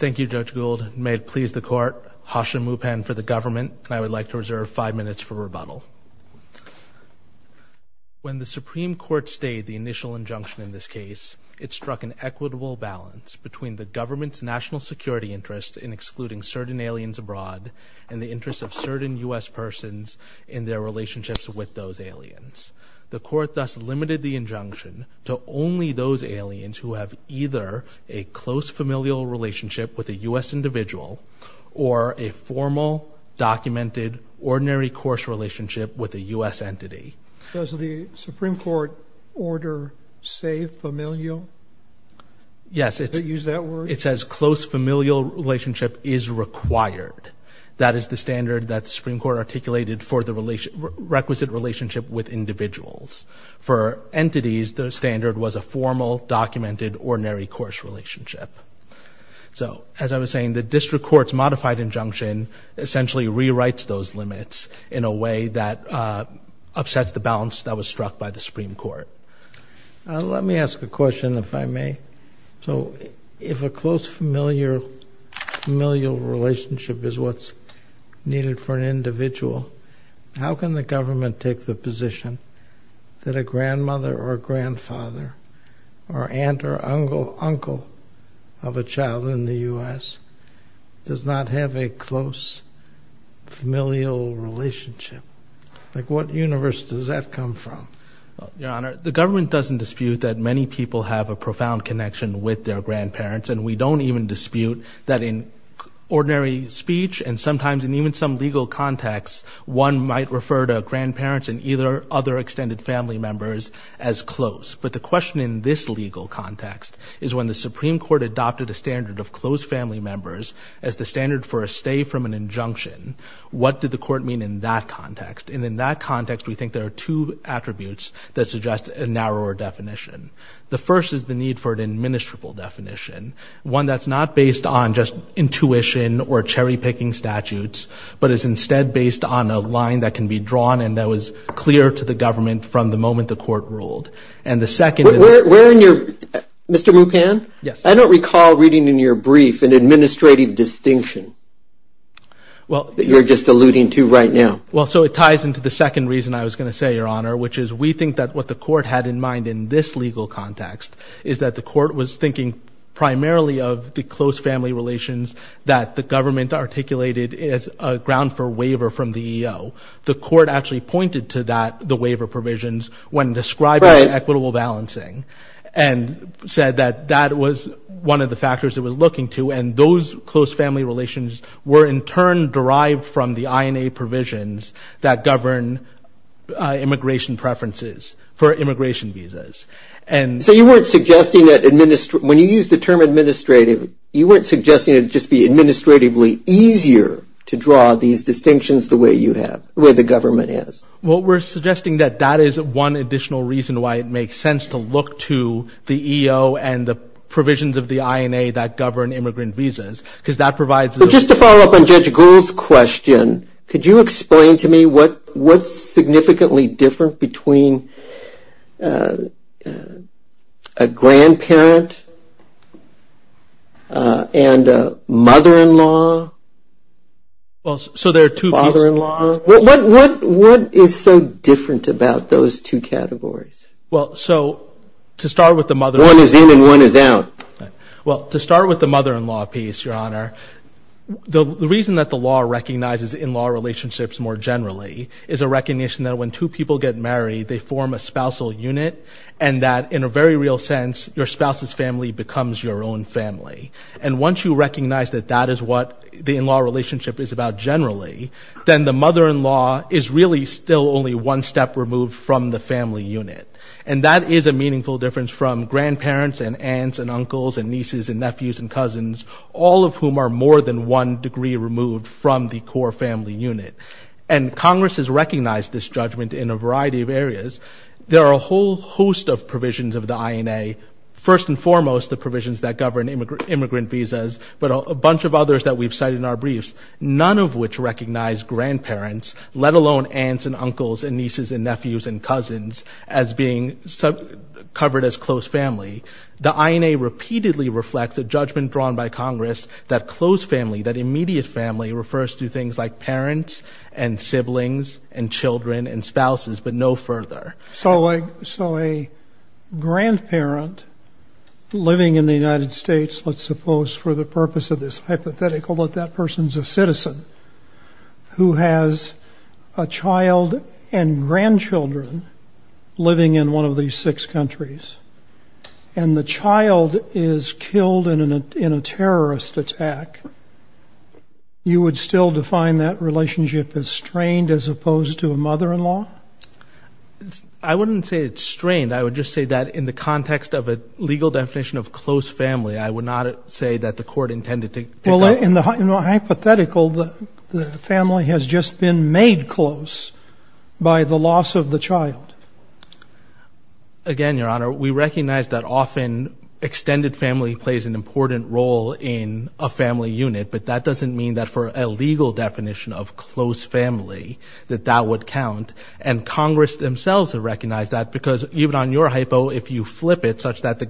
When the Supreme Court stayed the initial injunction in this case, it struck an equitable balance between the government's national security interests in excluding certain aliens abroad and the interests of certain U.S. persons in their relationships with those aliens. The Court thus limited the injunction to only those aliens who have either a close familial relationship with a U.S. individual or a formal, documented, ordinary course relationship with a U.S. entity. Does the Supreme Court order, say, familial? Yes. Does it use that word? It says close familial relationship is required. That is the standard that the Supreme Court articulated for the requisite relationship with individuals. For entities, the standard was a formal, documented, ordinary course relationship. So as I was saying, the district court's modified injunction essentially rewrites those limits in a way that upsets the balance that was struck by the Supreme Court. Let me ask a question, if I may. So if a close familial relationship is what's needed for an individual, how can the government take the position that a grandmother or grandfather or aunt or uncle of a child in the U.S. does not have a close familial relationship? What universe does that come from? Your Honor, the government doesn't dispute that many people have a profound connection with their grandparents, and we don't even dispute that in ordinary speech and sometimes in even some legal contexts, one might refer to grandparents and either other extended family members as close. But the question in this legal context is when the Supreme Court adopted a standard of close family members as the standard for a stay from an injunction, what did the court mean in that context? And in that context, we think there are two attributes that suggest a narrower definition. The first is the need for an administrable definition, one that's not based on just intuition or cherry-picking statutes, but is instead based on a line that can be drawn and that was clear to the government from the moment the court ruled. And the second is... Where in your... Mr. Mupan? Yes. I don't recall reading in your brief an administrative distinction that you're just alluding to right now. Well, so it ties into the second reason I was going to say, Your Honor, which is we think that what the court had in mind in this legal context is that the court was thinking primarily of the close family relations that the government articulated as a ground for waiver from the EEO. The court actually pointed to that, the waiver provisions, when describing equitable balancing and said that that was one of the factors it was looking to, and those close family relations were in turn derived from the INA provisions that govern immigration preferences for immigration visas. And... So you weren't suggesting that... When you use the term administrative, you weren't suggesting it would just be administratively easier to draw these distinctions the way you have, the way the government has? Well, we're suggesting that that is one additional reason why it makes sense to look to the EEO and the provisions of the INA that govern immigrant visas, because that provides... But just to follow up on Judge Gould's question, could you explain to me what's significantly different between a grandparent and a mother-in-law, father-in-law? What is so different about those two categories? Well, so to start with the mother-in-law... One is in and one is out. Well, to start with the mother-in-law piece, Your Honor, the reason that the law recognizes in-law relationships more generally is a recognition that when two people get married, they form a spousal unit, and that in a very real sense, your spouse's family becomes your own family. And once you recognize that that is what the in-law relationship is about generally, then the mother-in-law is really still only one step removed from the family unit. And that is a meaningful difference from grandparents and aunts and uncles and nieces and nephews and cousins, all of whom are more than one degree removed from the core family unit. And Congress has recognized this judgment in a variety of areas. There are a whole host of provisions of the INA, first and foremost, the provisions that govern immigrant visas, but a bunch of others that we've cited in our briefs, none of which recognize grandparents, let alone aunts and uncles and nieces and nephews and cousins, as being covered as close family. The INA repeatedly reflects a judgment drawn by Congress that close family, that immediate family, refers to things like parents and siblings and children and spouses, but no further. So a grandparent living in the United States, let's suppose for the purpose of this hypothetical that that person's a citizen who has a child and grandchildren living in one of these six countries and the child is killed in a terrorist attack, you would still define that relationship as strained as opposed to a mother-in-law? I wouldn't say it's strained. I would just say that in the context of a legal definition of close family, I would not say that the court intended to pick that up. Well, in the hypothetical, the family has just been made close by the loss of the child. Again, Your Honor, we recognize that often extended family plays an important role in a family unit, but that doesn't mean that for a legal definition of close family that that would count. And Congress themselves have recognized that because even on your hypo, if you flip it that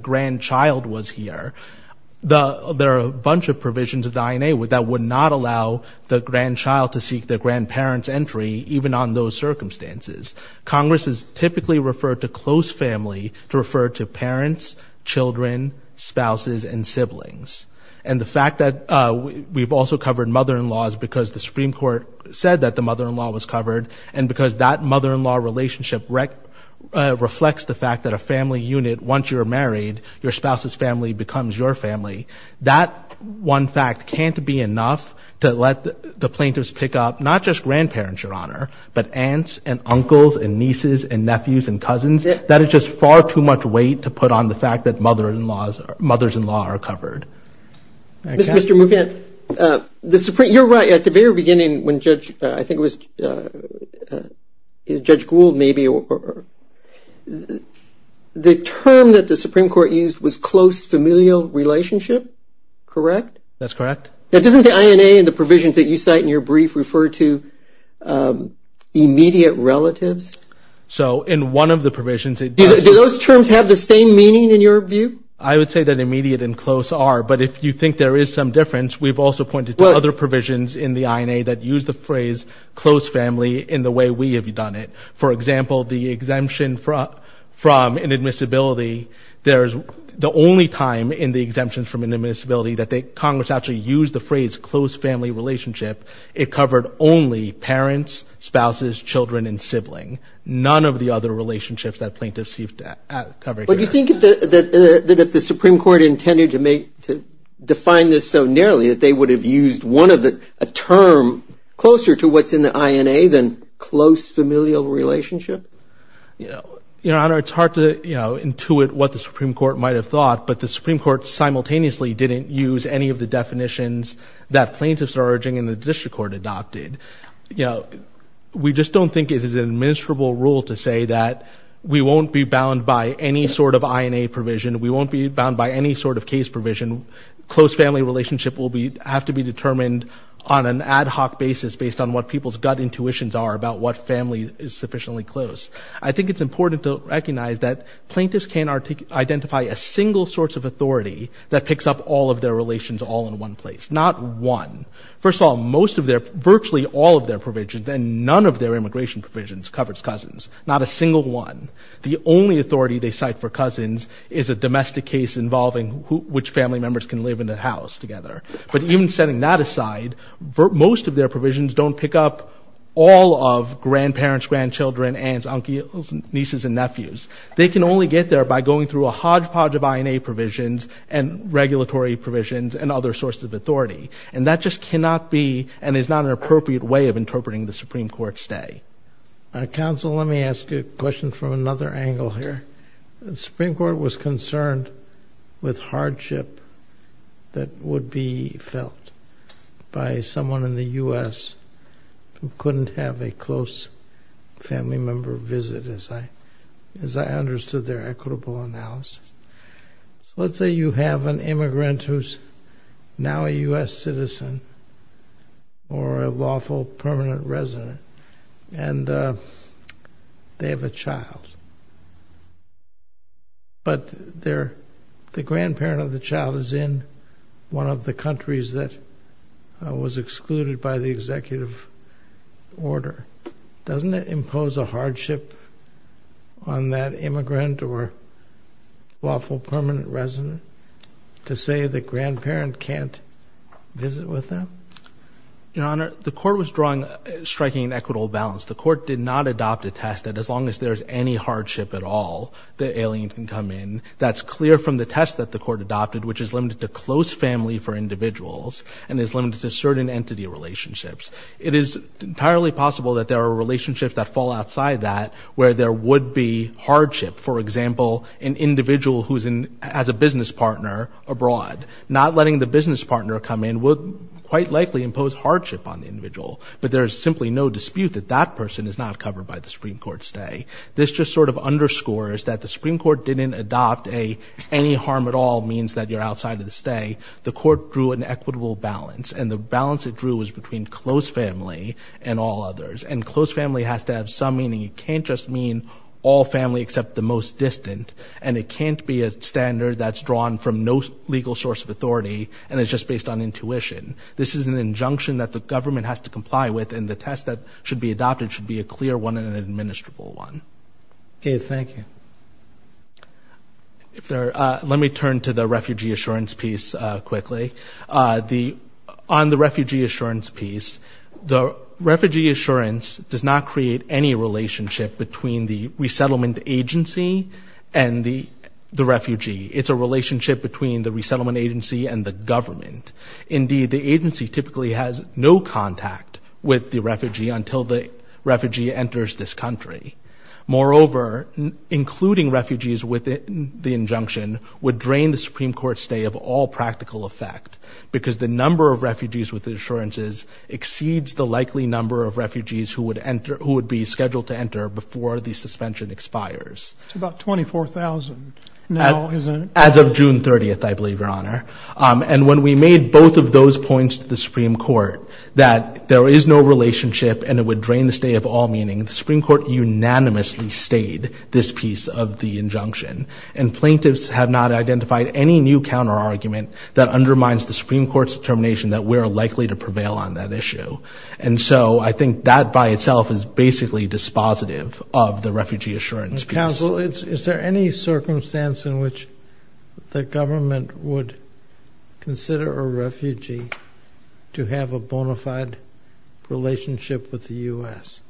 would not allow the grandchild to seek their grandparent's entry even on those circumstances. Congress has typically referred to close family to refer to parents, children, spouses, and siblings. And the fact that we've also covered mother-in-laws because the Supreme Court said that the mother-in-law was covered and because that mother-in-law relationship reflects the fact that a family unit, once you're married, your spouse's family becomes your family. That one fact can't be enough to let the plaintiffs pick up not just grandparents, Your Honor, but aunts and uncles and nieces and nephews and cousins. That is just far too much weight to put on the fact that mother-in-laws, mothers-in-law are covered. Mr. Mugent, the Supreme, you're right. At the very beginning when Judge, I think it was Judge Gould maybe, the term that the correct? That's correct. Now doesn't the INA and the provisions that you cite in your brief refer to immediate relatives? So in one of the provisions it does. Do those terms have the same meaning in your view? I would say that immediate and close are. But if you think there is some difference, we've also pointed to other provisions in the INA that use the phrase close family in the way we have done it. For example, the exemption from inadmissibility, there's the only time in the exemptions from inadmissibility that Congress actually used the phrase close family relationship. It covered only parents, spouses, children, and sibling. None of the other relationships that plaintiffs have covered here. But you think that if the Supreme Court intended to define this so narrowly that they would have used one of the, a term closer to what's in the INA than close familial relationship? Your Honor, it's hard to intuit what the Supreme Court might have thought, but the Supreme Court certainly didn't use any of the definitions that plaintiffs are urging in the district court adopted. We just don't think it is an admissible rule to say that we won't be bound by any sort of INA provision. We won't be bound by any sort of case provision. Close family relationship will have to be determined on an ad hoc basis based on what people's gut intuitions are about what family is sufficiently close. I think it's important to recognize that plaintiffs can't identify a single source of authority that picks up all of their relations all in one place. Not one. First of all, most of their, virtually all of their provisions and none of their immigration provisions covers cousins. Not a single one. The only authority they cite for cousins is a domestic case involving which family members can live in a house together. But even setting that aside, most of their provisions don't pick up all of grandparents, grandchildren, aunts, uncles, nieces, and nephews. They can only get there by going through a hodgepodge of INA provisions and regulatory provisions and other sources of authority. And that just cannot be and is not an appropriate way of interpreting the Supreme Court's day. Counsel, let me ask you a question from another angle here. The Supreme Court was concerned with hardship that would be felt by someone in the U.S. who couldn't have a close family member visit, as I understood their equitable analysis. So let's say you have an immigrant who's now a U.S. citizen or a lawful permanent resident, and they have a child. But the grandparent of the child is in one of the countries that was excluded by the executive order. Doesn't it impose a hardship on that immigrant or lawful permanent resident to say the grandparent can't visit with them? Your Honor, the court was drawing a striking equitable balance. The court did not adopt a test that as long as there's any hardship at all, the alien can come in. That's clear from the test that the court adopted, which is limited to close family for individuals and is limited to certain entity relationships. It is entirely possible that there are relationships that fall outside that where there would be hardship. For example, an individual who's as a business partner abroad, not letting the business partner come in would quite likely impose hardship on the individual. But there's simply no dispute that that person is not covered by the Supreme Court's day. This just sort of underscores that the Supreme Court didn't adopt a any harm at all means that you're outside of the stay. The court drew an equitable balance, and the balance it drew was between close family and all others. And close family has to have some meaning. It can't just mean all family except the most distant, and it can't be a standard that's drawn from no legal source of authority, and it's just based on intuition. This is an injunction that the government has to comply with, and the test that should be adopted should be a clear one and an administrable one. Okay, thank you. Let me turn to the refugee assurance piece quickly. On the refugee assurance piece, the refugee assurance does not create any relationship between the resettlement agency and the refugee. It's a relationship between the resettlement agency and the government. Indeed, the agency typically has no contact with the refugee until the refugee enters this country. Moreover, including refugees within the injunction would drain the Supreme Court's stay of all practical effect, because the number of refugees with the assurances exceeds the likely number of refugees who would be scheduled to enter before the suspension expires. It's about 24,000 now, isn't it? As of June 30th, I believe, Your Honor. And when we made both of those points to the Supreme Court, that there is no relationship and it would drain the stay of all meaning, the Supreme Court unanimously stayed this piece of the injunction, and plaintiffs have not identified any new counterargument that undermines the Supreme Court's determination that we are likely to prevail on that issue. And so I think that by itself is basically dispositive of the refugee assurance piece. Counsel, is there any circumstance in which the government would consider a refugee to have a bona fide relationship with the U.S.?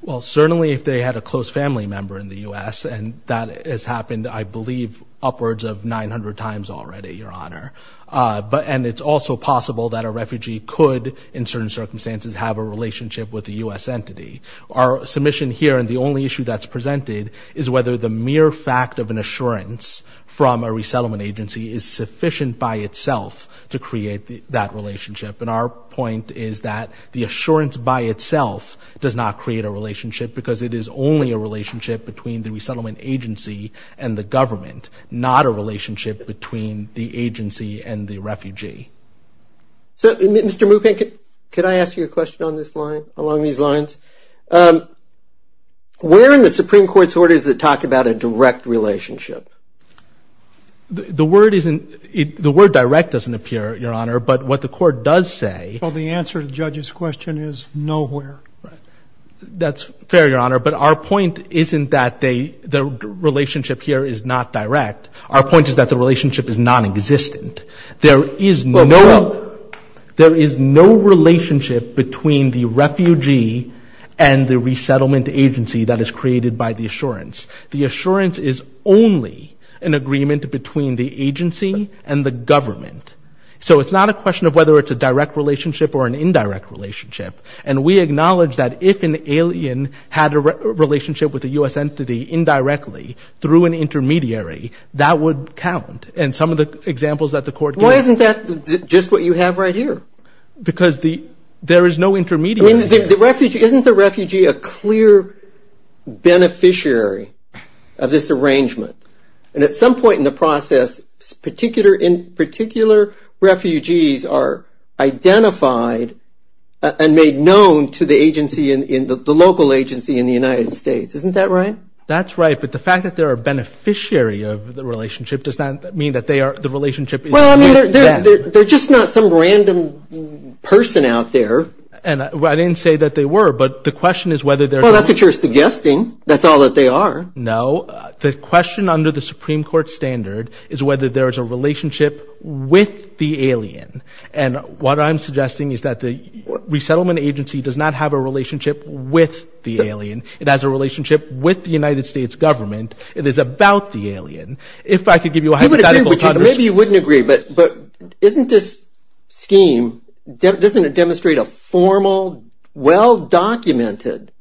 Well, certainly if they had a close family member in the U.S., and that has happened, I believe, upwards of 900 times already, Your Honor. And it's also possible that a refugee could, in certain circumstances, have a relationship with a U.S. entity. Our submission here, and the only issue that's presented, is whether the mere fact of an assurance from a resettlement agency is sufficient by itself to create that relationship. And our point is that the assurance by itself does not create a relationship because it is only a relationship between the resettlement agency and the government, not a relationship between the agency and the refugee. So, Mr. Mupin, could I ask you a question on this line, along these lines? Where in the Supreme Court's order does it talk about a direct relationship? The word direct doesn't appear, Your Honor, but what the court does say— Well, the answer to the judge's question is nowhere. That's fair, Your Honor, but our point isn't that the relationship here is not direct. Our point is that the relationship is nonexistent. There is no relationship between the refugee and the resettlement agency that is created by the assurance. The assurance is only an agreement between the agency and the government. So it's not a question of whether it's a direct relationship or an indirect relationship, and we acknowledge that if an alien had a relationship with a U.S. entity indirectly through an intermediary, that would count. And some of the examples that the court gave— Why isn't that just what you have right here? Because there is no intermediary. Isn't the refugee a clear beneficiary of this arrangement? And at some point in the process, particular refugees are identified and made known to the local agency in the United States. Isn't that right? That's right, but the fact that they're a beneficiary of the relationship does not mean that the relationship is with them. They're just not some random person out there. I didn't say that they were, but the question is whether they're— Well, that's what you're suggesting. That's all that they are. No. The question under the Supreme Court standard is whether there is a relationship with the alien. And what I'm suggesting is that the resettlement agency does not have a relationship with the alien. It has a relationship with the United States government. It is about the alien. If I could give you a hypothetical— Maybe you wouldn't agree. But isn't this scheme—doesn't it demonstrate a formal, well-documented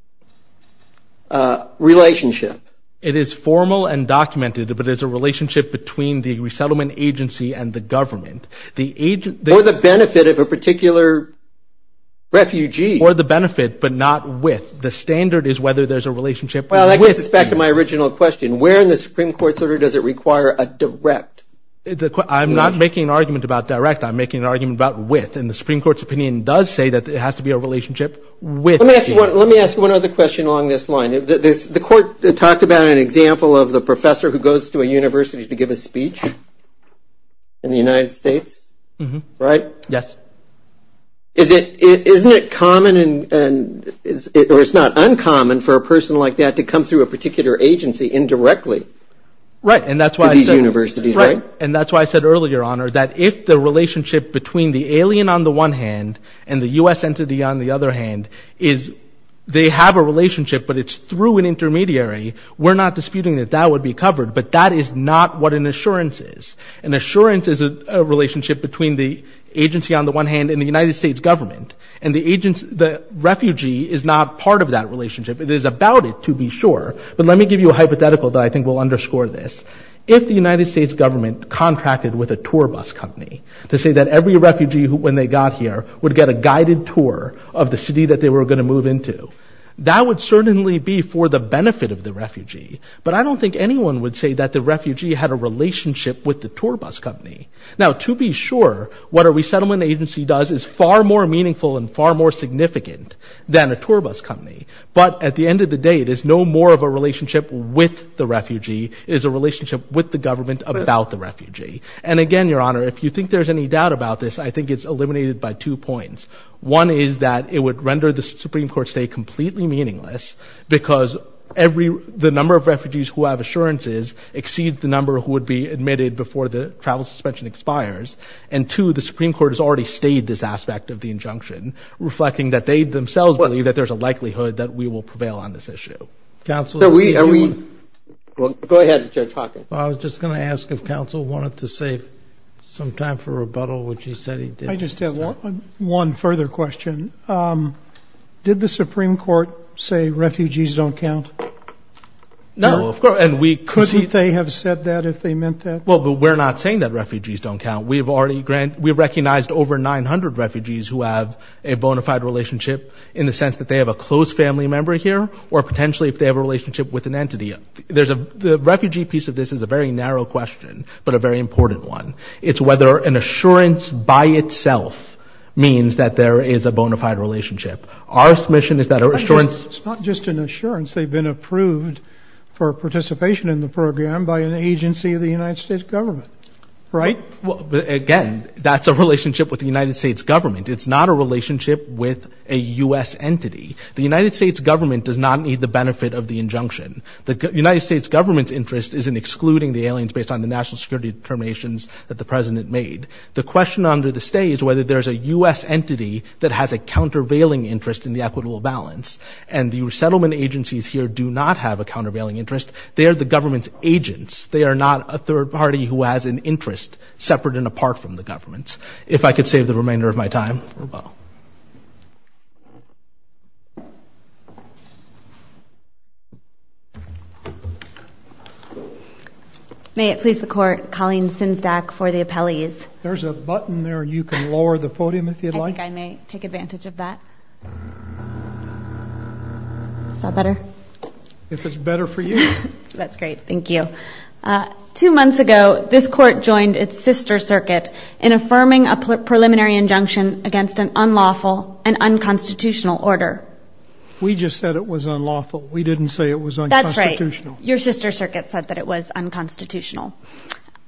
relationship? It is formal and documented, but there's a relationship between the resettlement agency and the government. Or the benefit of a particular refugee. Or the benefit, but not with. The standard is whether there's a relationship with the— Well, I guess it's back to my original question. Where in the Supreme Court's order does it require a direct— I'm not making an argument about direct. I'm making an argument about with. And the Supreme Court's opinion does say that it has to be a relationship with. Let me ask one other question along this line. The court talked about an example of the professor who goes to a university to give a speech in the United States, right? Yes. Isn't it common and—or it's not uncommon for a person like that to come through a particular agency indirectly? Right. And that's why I said— Right. And that's why I said earlier, Honor, that if the relationship between the alien on the one hand and the U.S. entity on the other hand is they have a relationship but it's through an intermediary, we're not disputing that that would be covered. But that is not what an assurance is. An assurance is a relationship between the agency on the one hand and the United States government. And the agency—the refugee is not part of that relationship. It is about it, to be sure. But let me give you a hypothetical that I think will underscore this. If the United States government contracted with a tour bus company to say that every refugee when they got here would get a guided tour of the city that they were going to move into, that would certainly be for the benefit of the refugee. But I don't think anyone would say that the refugee had a relationship with the tour bus company. Now, to be sure, what a resettlement agency does is far more meaningful and far more significant than a tour bus company. But at the end of the day, it is no more of a relationship with the refugee. It is a relationship with the government about the refugee. And again, Your Honor, if you think there's any doubt about this, I think it's eliminated by two points. One is that it would render the Supreme Court stay completely meaningless because every—the number of refugees who have assurances exceeds the number who would be admitted before the travel suspension expires. And two, the Supreme Court has already stayed this aspect of the injunction, reflecting that they themselves believe that there's a likelihood that we will prevail on this issue. Are we—go ahead, Judge Hawkins. I was just going to ask if counsel wanted to save some time for rebuttal, which he said he did. I just have one further question. Did the Supreme Court say refugees don't count? No. Couldn't they have said that if they meant that? Well, but we're not saying that refugees don't count. We've already—we've recognized over 900 refugees who have a bona fide relationship in the sense that they have a close family member here or potentially if they have a relationship with an entity. There's a—the refugee piece of this is a very narrow question but a very important one. It's whether an assurance by itself means that there is a bona fide relationship. Our submission is that assurance— It's not just an assurance. They've been approved for participation in the program by an agency of the United States government, right? Well, again, that's a relationship with the United States government. It's not a relationship with a U.S. entity. The United States government does not need the benefit of the injunction. The United States government's interest is in excluding the aliens based on the national security determinations that the president made. The question under the stay is whether there's a U.S. entity that has a countervailing interest in the equitable balance, and the settlement agencies here do not have a countervailing interest. They are the government's agents. They are not a third party who has an interest separate and apart from the government's. If I could save the remainder of my time. May it please the Court, Colleen Sinzdak for the appellees. There's a button there. You can lower the podium if you'd like. I think I may take advantage of that. Is that better? If it's better for you. That's great. Thank you. Two months ago, this Court joined its sister circuit in affirming a preliminary injunction against an unlawful and unconstitutional order. We just said it was unlawful. We didn't say it was unconstitutional. That's right. Your sister circuit said that it was unconstitutional.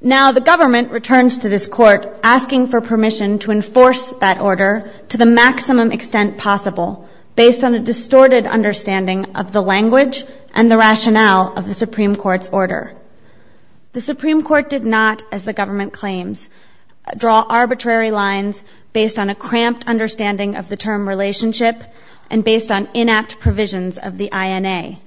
Now the government returns to this Court asking for permission to enforce that order to the maximum extent possible, based on a distorted understanding of the language and the rationale of the Supreme Court's order. The Supreme Court did not, as the government claims, draw arbitrary lines based on a cramped understanding of the term relationship and based on inapt provisions of the INA.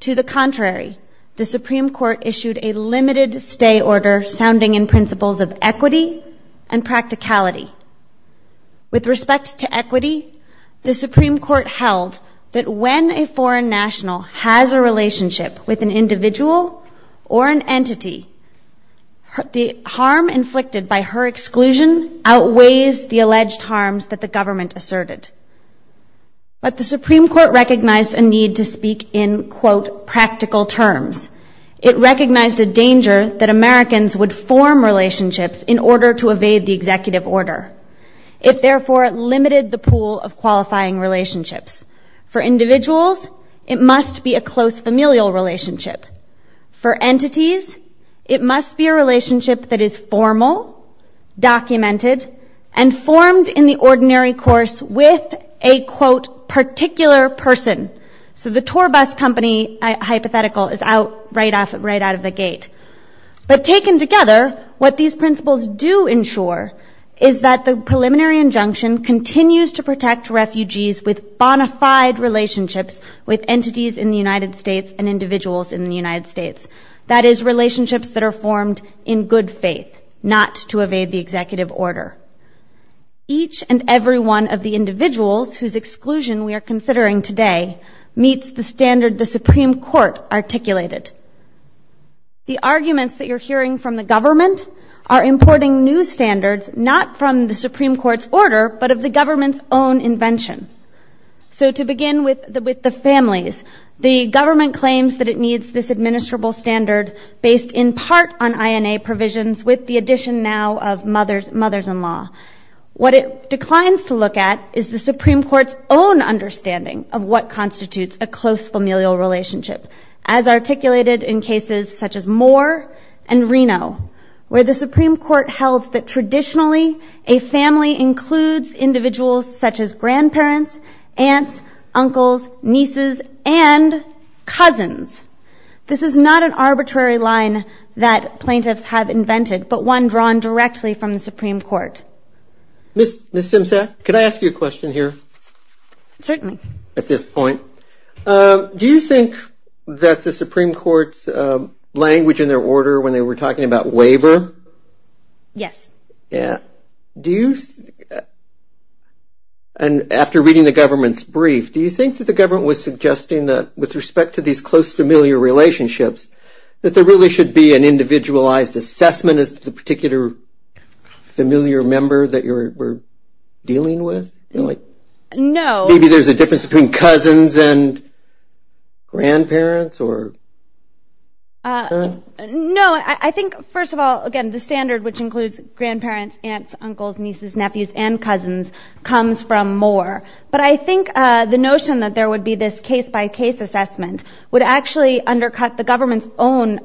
To the contrary, the Supreme Court issued a limited stay order sounding in principles of equity and practicality. With respect to equity, the Supreme Court held that when a foreign national has a relationship with an individual or an entity, the harm inflicted by her exclusion outweighs the alleged harms that the government asserted. But the Supreme Court recognized a need to speak in, quote, practical terms. It recognized a danger that Americans would form relationships in order to evade the executive order. It therefore limited the pool of qualifying relationships. For individuals, it must be a close familial relationship. For entities, it must be a relationship that is formal, documented, and formed in the ordinary course with a, quote, particular person. So the tour bus company hypothetical is out, right out of the gate. But taken together, what these principles do ensure is that the preliminary injunction continues to protect refugees with bona fide relationships with entities in the United States and individuals in the United States. That is, relationships that are formed in good faith, not to evade the executive order. Each and every one of the individuals whose exclusion we are considering today meets the standard the Supreme Court articulated. The arguments that you're hearing from the government are importing new standards, not from the Supreme Court's order, but of the government's own invention. So to begin with the families, the government claims that it needs this administrable standard based in part on INA provisions with the addition now of mothers-in-law. What it declines to look at is the Supreme Court's own understanding of what constitutes a close familial relationship, as articulated in cases such as Moore and Reno, where the Supreme Court held that traditionally a family includes individuals such as grandparents, aunts, uncles, nieces, and cousins. This is not an arbitrary line that plaintiffs have invented, but one drawn directly from the Supreme Court. Ms. Simsack, could I ask you a question here? Certainly. At this point. Do you think that the Supreme Court's language in their order when they were talking about waiver? Yes. And after reading the government's brief, do you think that the government was suggesting that with respect to these close familial relationships, that there really should be an individualized assessment as to the particular familiar member that you're dealing with? Maybe there's a difference between cousins and grandparents? No, I think first of all, again, the standard which includes grandparents, aunts, uncles, nieces, nephews, and cousins comes from Moore. But I think the notion that there would be this case-by-case assessment would actually undercut the government's own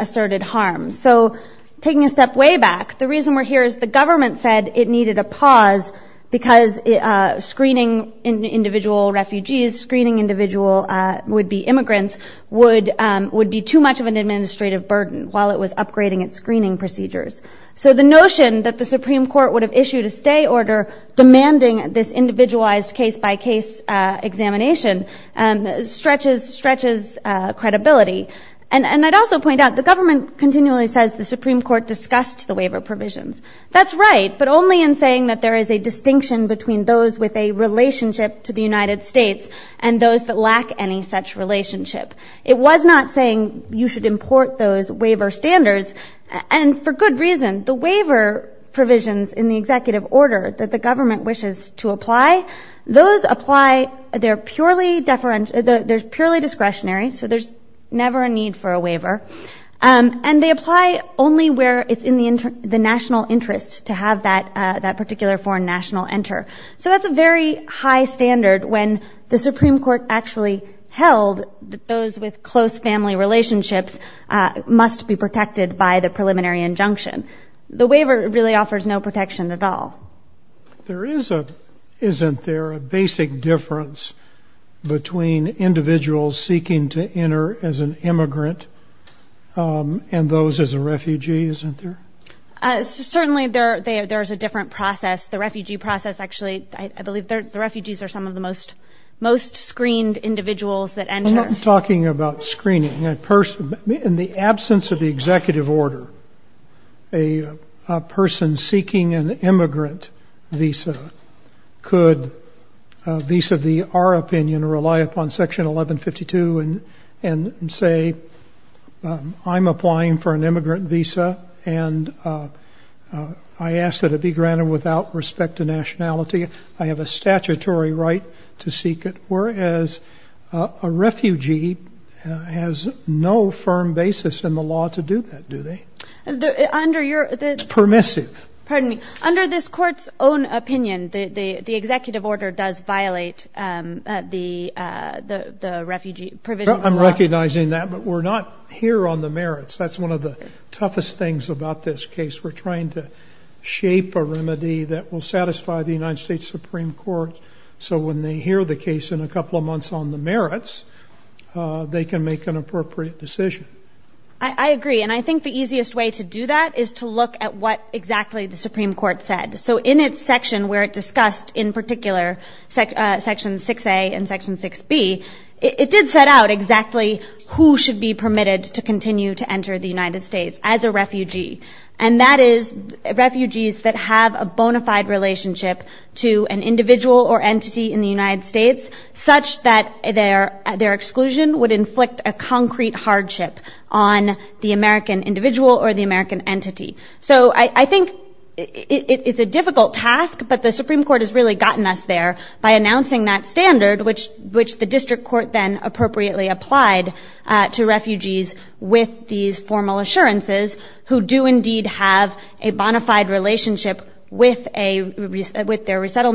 pause because screening individual refugees, screening individual would-be immigrants, would be too much of an administrative burden while it was upgrading its screening procedures. So the notion that the Supreme Court would have issued a stay order demanding this individualized case-by-case examination stretches credibility. And I'd also point out, the government continually says the Supreme Court discussed the waiver provisions. That's right, but only in saying that there is a distinction between those with a relationship to the United States and those that lack any such relationship. It was not saying you should import those waiver standards, and for good reason. The waiver provisions in the executive order that the government wishes to apply, those apply, they're purely discretionary, so there's never a need for a waiver. And they apply only where it's in the national interest to have that particular foreign national enter. So that's a very high standard when the Supreme Court actually held that those with close family relationships must be protected by the preliminary injunction. The waiver really offers no protection at all. There is a, isn't there, a basic difference between individuals seeking to enter as an immigrant and those as a refugee, isn't there? Certainly there is a different process. The refugee process, actually, I believe the refugees are some of the most screened individuals that enter. I'm not talking about screening. In the absence of the executive order, a person seeking an immigrant visa could, vis-a-vis our opinion, rely upon Section 1152 and say, I'm applying for an immigrant visa, and I ask that it be granted without respect to nationality. I have a statutory right to seek it, whereas a refugee has no firm basis in the law to do that, do they? It's permissive. Pardon me. Under this Court's own opinion, the executive order does violate the refugee provision of the law. It does not violate Supreme Court, so when they hear the case in a couple of months on the merits, they can make an appropriate decision. I agree, and I think the easiest way to do that is to look at what exactly the Supreme Court said. So in its section where it discussed, in particular, Section 6A and Section 6B, it did set out exactly who should be permitted to continue to enter the United States as a refugee. It did not set out who should be granted a visa to an individual or entity in the United States, such that their exclusion would inflict a concrete hardship on the American individual or the American entity. So I think it's a difficult task, but the Supreme Court has really gotten us there by announcing that standard, which the district court then appropriately applied to refugees with these formal assurances, who do indeed have a bona fide relationship with their resettlement, with their immigration status,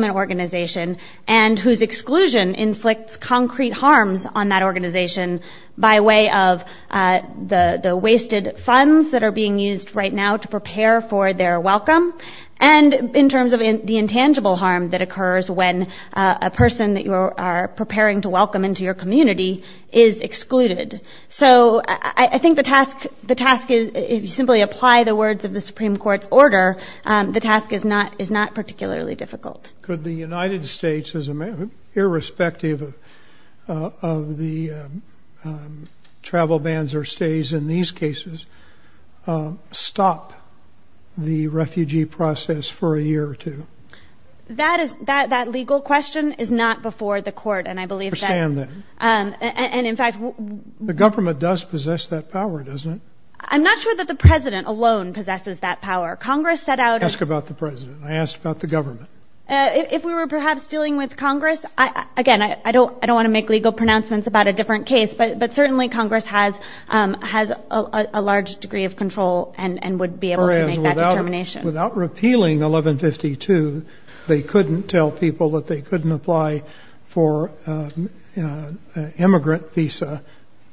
with an organization, and whose exclusion inflicts concrete harms on that organization by way of the wasted funds that are being used right now to prepare for their welcome, and in terms of the intangible harm that occurs when a person that you are preparing to welcome into your community is excluded. So I think the task is, if you simply apply the words of the Supreme Court's order, the task is not particularly difficult. So would the United States, irrespective of the travel bans or stays in these cases, stop the refugee process for a year or two? That legal question is not before the court, and I believe that... I understand that. And in fact... The government does possess that power, doesn't it? I'm not sure that the President alone possesses that power. Congress set out... Ask about the President. I asked about the government. If we were perhaps dealing with Congress, again, I don't want to make legal pronouncements about a different case, but certainly Congress has a large degree of control and would be able to make that determination. Without repealing 1152, they couldn't tell people that they couldn't apply for an immigrant visa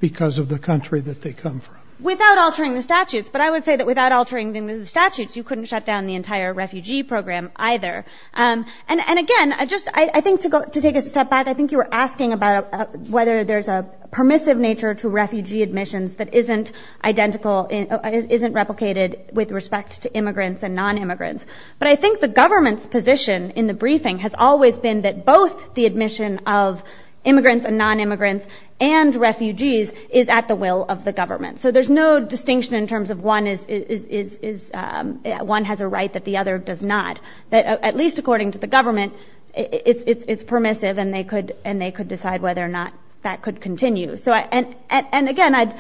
because of the country that they come from. Without altering the statutes, but I would say that without altering the statutes, you couldn't shut down the entire refugee program either. And again, I think to take a step back, I think you were asking about whether there's a permissive nature to refugee admissions that isn't identical, isn't replicated with respect to immigrants and non-immigrants. But I think the government's position in the briefing has always been that both the admission of immigrants and non-immigrants and refugees is at the will of the government. So there's no distinction in terms of one has a right that the other does not. At least according to the government, it's permissive and they could decide whether or not that could continue. And again,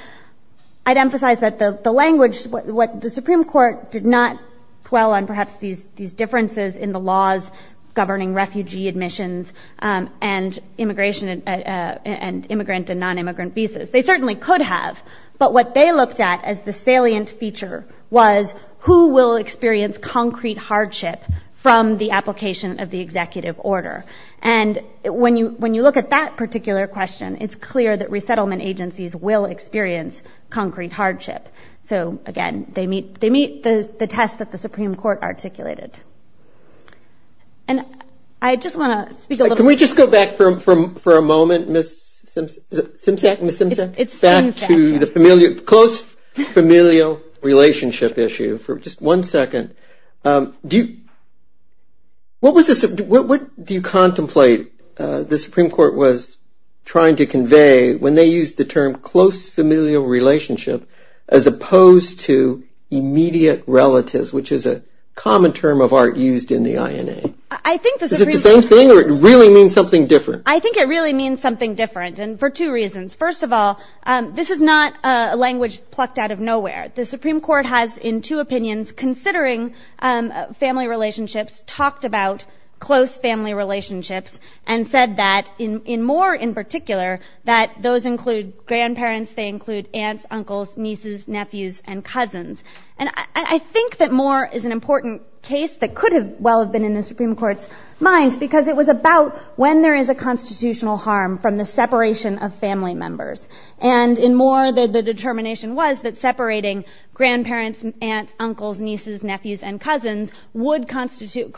I'd emphasize that the language, what the Supreme Court did not dwell on perhaps these differences in the laws governing refugee admissions and immigrant and non-immigrant visas. They certainly could have, but what they looked at as the salient feature was who will experience concrete hardship from the application of the executive order. And when you look at that particular question, it's clear that resettlement agencies will experience concrete hardship. So again, they meet the test that the Supreme Court articulated. And I just want to speak a little bit. Let's just go back for a moment, Ms. Simpson, back to the close familial relationship issue for just one second. What do you contemplate the Supreme Court was trying to convey when they used the term close familial relationship as opposed to immediate relatives, which is a common term of art used in the INA? Is it the same thing or does it really mean something different? I think it really means something different for two reasons. First of all, this is not a language plucked out of nowhere. The Supreme Court has in two opinions, considering family relationships, talked about close family relationships and said that in Moore in particular, that those include grandparents, they include aunts, uncles, nieces, nephews and cousins. And I think that Moore is an important case that could have well have been in the Supreme Court's mind, because it was about when there is a constitutional harm from the separation of family members. And in Moore, the determination was that separating grandparents, aunts, uncles, nieces, nephews and cousins could constitute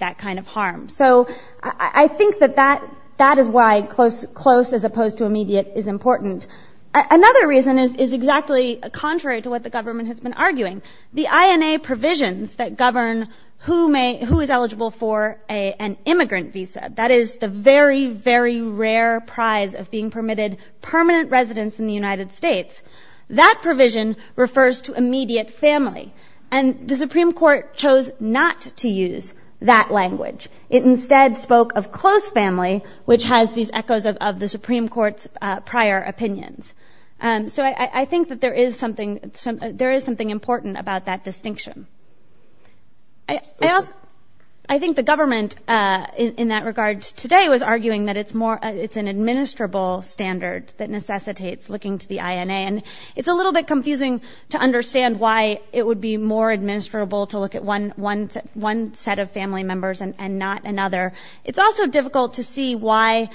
that kind of harm. So I think that that is why close as opposed to immediate is important. Another reason is exactly contrary to what the government has been arguing. The INA provisions that govern who is eligible for an immigrant visa, that is the very, very rare prize of being permitted permanent residence in the United States, that provision refers to immediate family. And the Supreme Court chose not to use that language. It instead spoke of close family, which has these echoes of the Supreme Court's prior opinions. So I think that there is something important about that distinction. I think the government in that regard today was arguing that it's an administrable standard that necessitates looking to the INA. And it's a little bit confusing to understand why it would be more administrable to look at one set of family members and not all of them. And why not another? It's also difficult to see why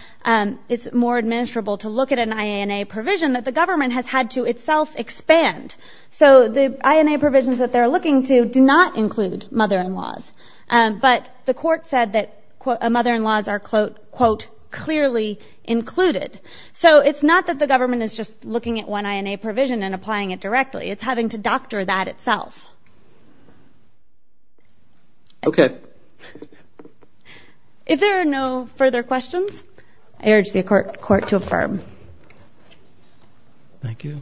it's more administrable to look at an INA provision that the government has had to itself expand. So the INA provisions that they're looking to do not include mother-in-laws. But the court said that mother-in-laws are, quote, clearly included. So it's not that the government is just looking at one INA provision and applying it directly. It's having to doctor that itself. Okay. If there are no further questions, I urge the court to affirm. Thank you.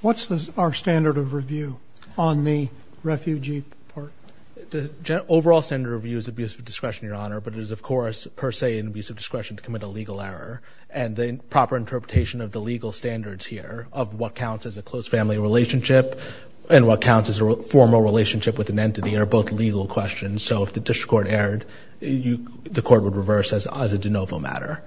What's our standard of review on the refugee part? The overall standard of review is abuse of discretion, Your Honor. But it is, of course, per se, an abuse of discretion to commit a legal error. And the proper interpretation of the legal standards here of what counts as a close family relationship and what counts as a formal relationship with an entity are both legal questions. So if the district court erred, the court would reverse as a de novo matter.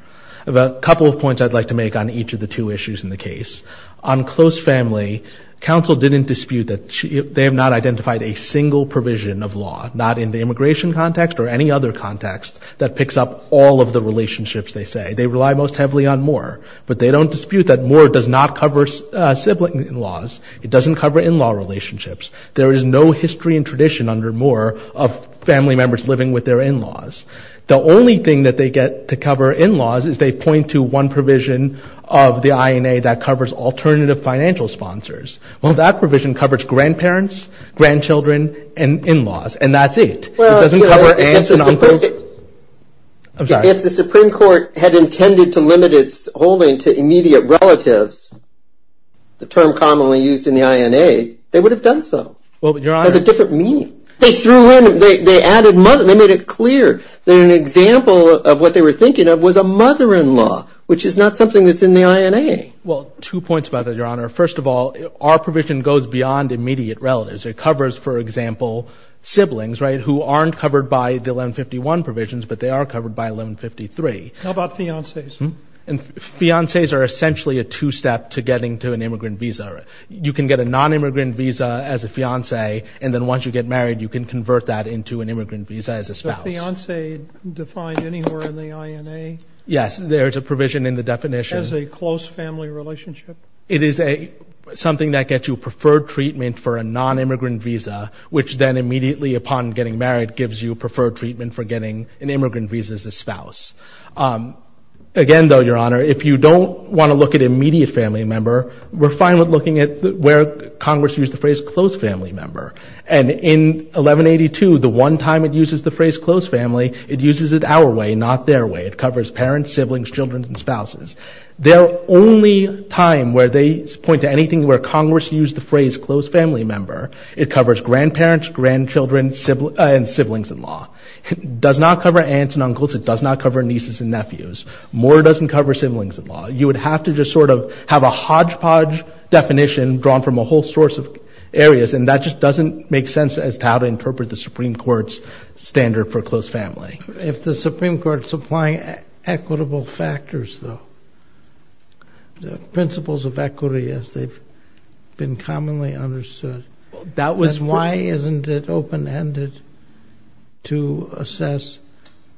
A couple of points I'd like to make on each of the two issues in the case. On close family, counsel didn't dispute that they have not identified a single provision of law, not in the immigration context or any other context, that picks up all of the relationships, they say. They rely most heavily on Moore. But they don't dispute that Moore does not cover sibling-in-laws. It doesn't cover in-law relationships. There is no history and tradition under Moore of family members living with their in-laws. The only thing that they get to cover in-laws is they point to one provision of the INA that covers alternative financial sponsors. Well, that provision covers grandparents, grandchildren, and in-laws. And that's it. It doesn't cover aunts and uncles. I'm sorry. If the Supreme Court had intended to limit its holding to immediate relatives, the term commonly used in the INA, they would have done so. It has a different meaning. They made it clear that an example of what they were thinking of was a mother-in-law, which is not something that's in the INA. Well, two points about that, Your Honor. First of all, our provision goes beyond immediate relatives. It covers, for example, siblings who aren't covered by the 1151 provisions, but they are covered by 1153. How about fiancés? Fiancés are essentially a two-step to getting to an immigrant visa. You can get a non-immigrant visa as a fiancé, and then once you get married, you can convert that into an immigrant visa as a spouse. Is the fiancé defined anywhere in the INA? Yes, there is a provision in the definition. As a close family relationship? It is something that gets you preferred treatment for a non-immigrant visa, which then immediately upon getting married gives you preferred treatment for getting an immigrant visa as a spouse. Again, though, Your Honor, if you don't want to look at immediate family member, we're fine with looking at where Congress used the phrase close family member. And in 1182, the one time it uses the phrase close family, it uses it our way, not their way. It covers parents, siblings, children, and spouses. Their only time where they point to anything where Congress used the phrase close family member, it covers grandparents, grandchildren, and siblings-in-law. It does not cover aunts and uncles. It does not cover nieces and nephews. More doesn't cover siblings-in-law. You would have to just sort of have a hodgepodge definition drawn from a whole source of areas, and that just doesn't make sense as to how to interpret the Supreme Court's standard for close family. If the Supreme Court's applying equitable factors, though, the principles of equity as they've been commonly understood, then why isn't it open-ended to assess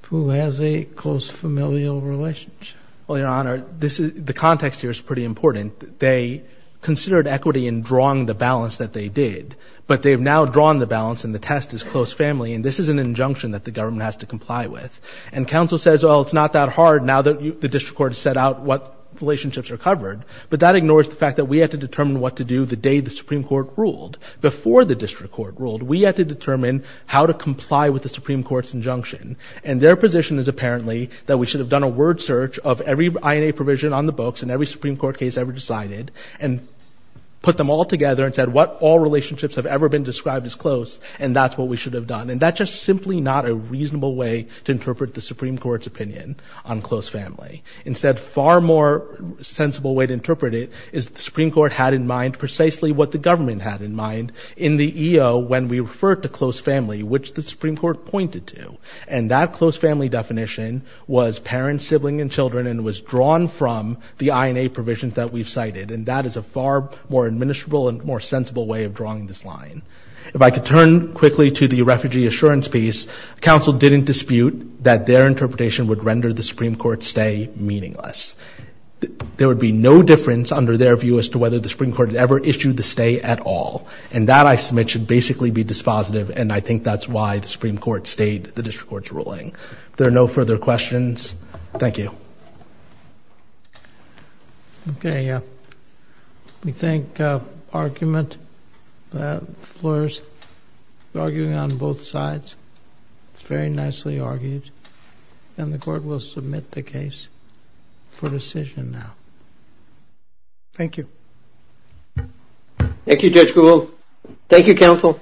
who has a close familial relationship? Well, Your Honor, the context here is pretty important. They considered equity in drawing the balance that they did, but they've now drawn the balance, and the test is close family, and this is an injunction that the government has to comply with. And counsel says, well, it's not that hard now that the district court has set out what relationships are covered, but that ignores the fact that we had to determine what to do the day the Supreme Court ruled. Before the district court ruled, we had to determine how to comply with the Supreme Court's injunction, and their position is apparently that we should have done a word search of every INA provision on the books and every Supreme Court case ever decided, and put them all together and said what all relationships have ever been described as close, and that's what we should have done. And that's just simply not a reasonable way to interpret the Supreme Court's opinion on close family. Instead, a far more sensible way to interpret it is the Supreme Court had in mind precisely what the government had in mind in the EO when we referred to close family, which the Supreme Court pointed to. And that close family definition was parents, siblings, and children, and was drawn from the INA provisions that we've cited, and that is a far more administrable and more sensible way of drawing this line. In terms of the assurance piece, counsel didn't dispute that their interpretation would render the Supreme Court's stay meaningless. There would be no difference under their view as to whether the Supreme Court had ever issued the stay at all, and that, I submit, should basically be dispositive, and I think that's why the Supreme Court stayed the district court's ruling. If there are no further questions, thank you. Okay. Thank you, counsel.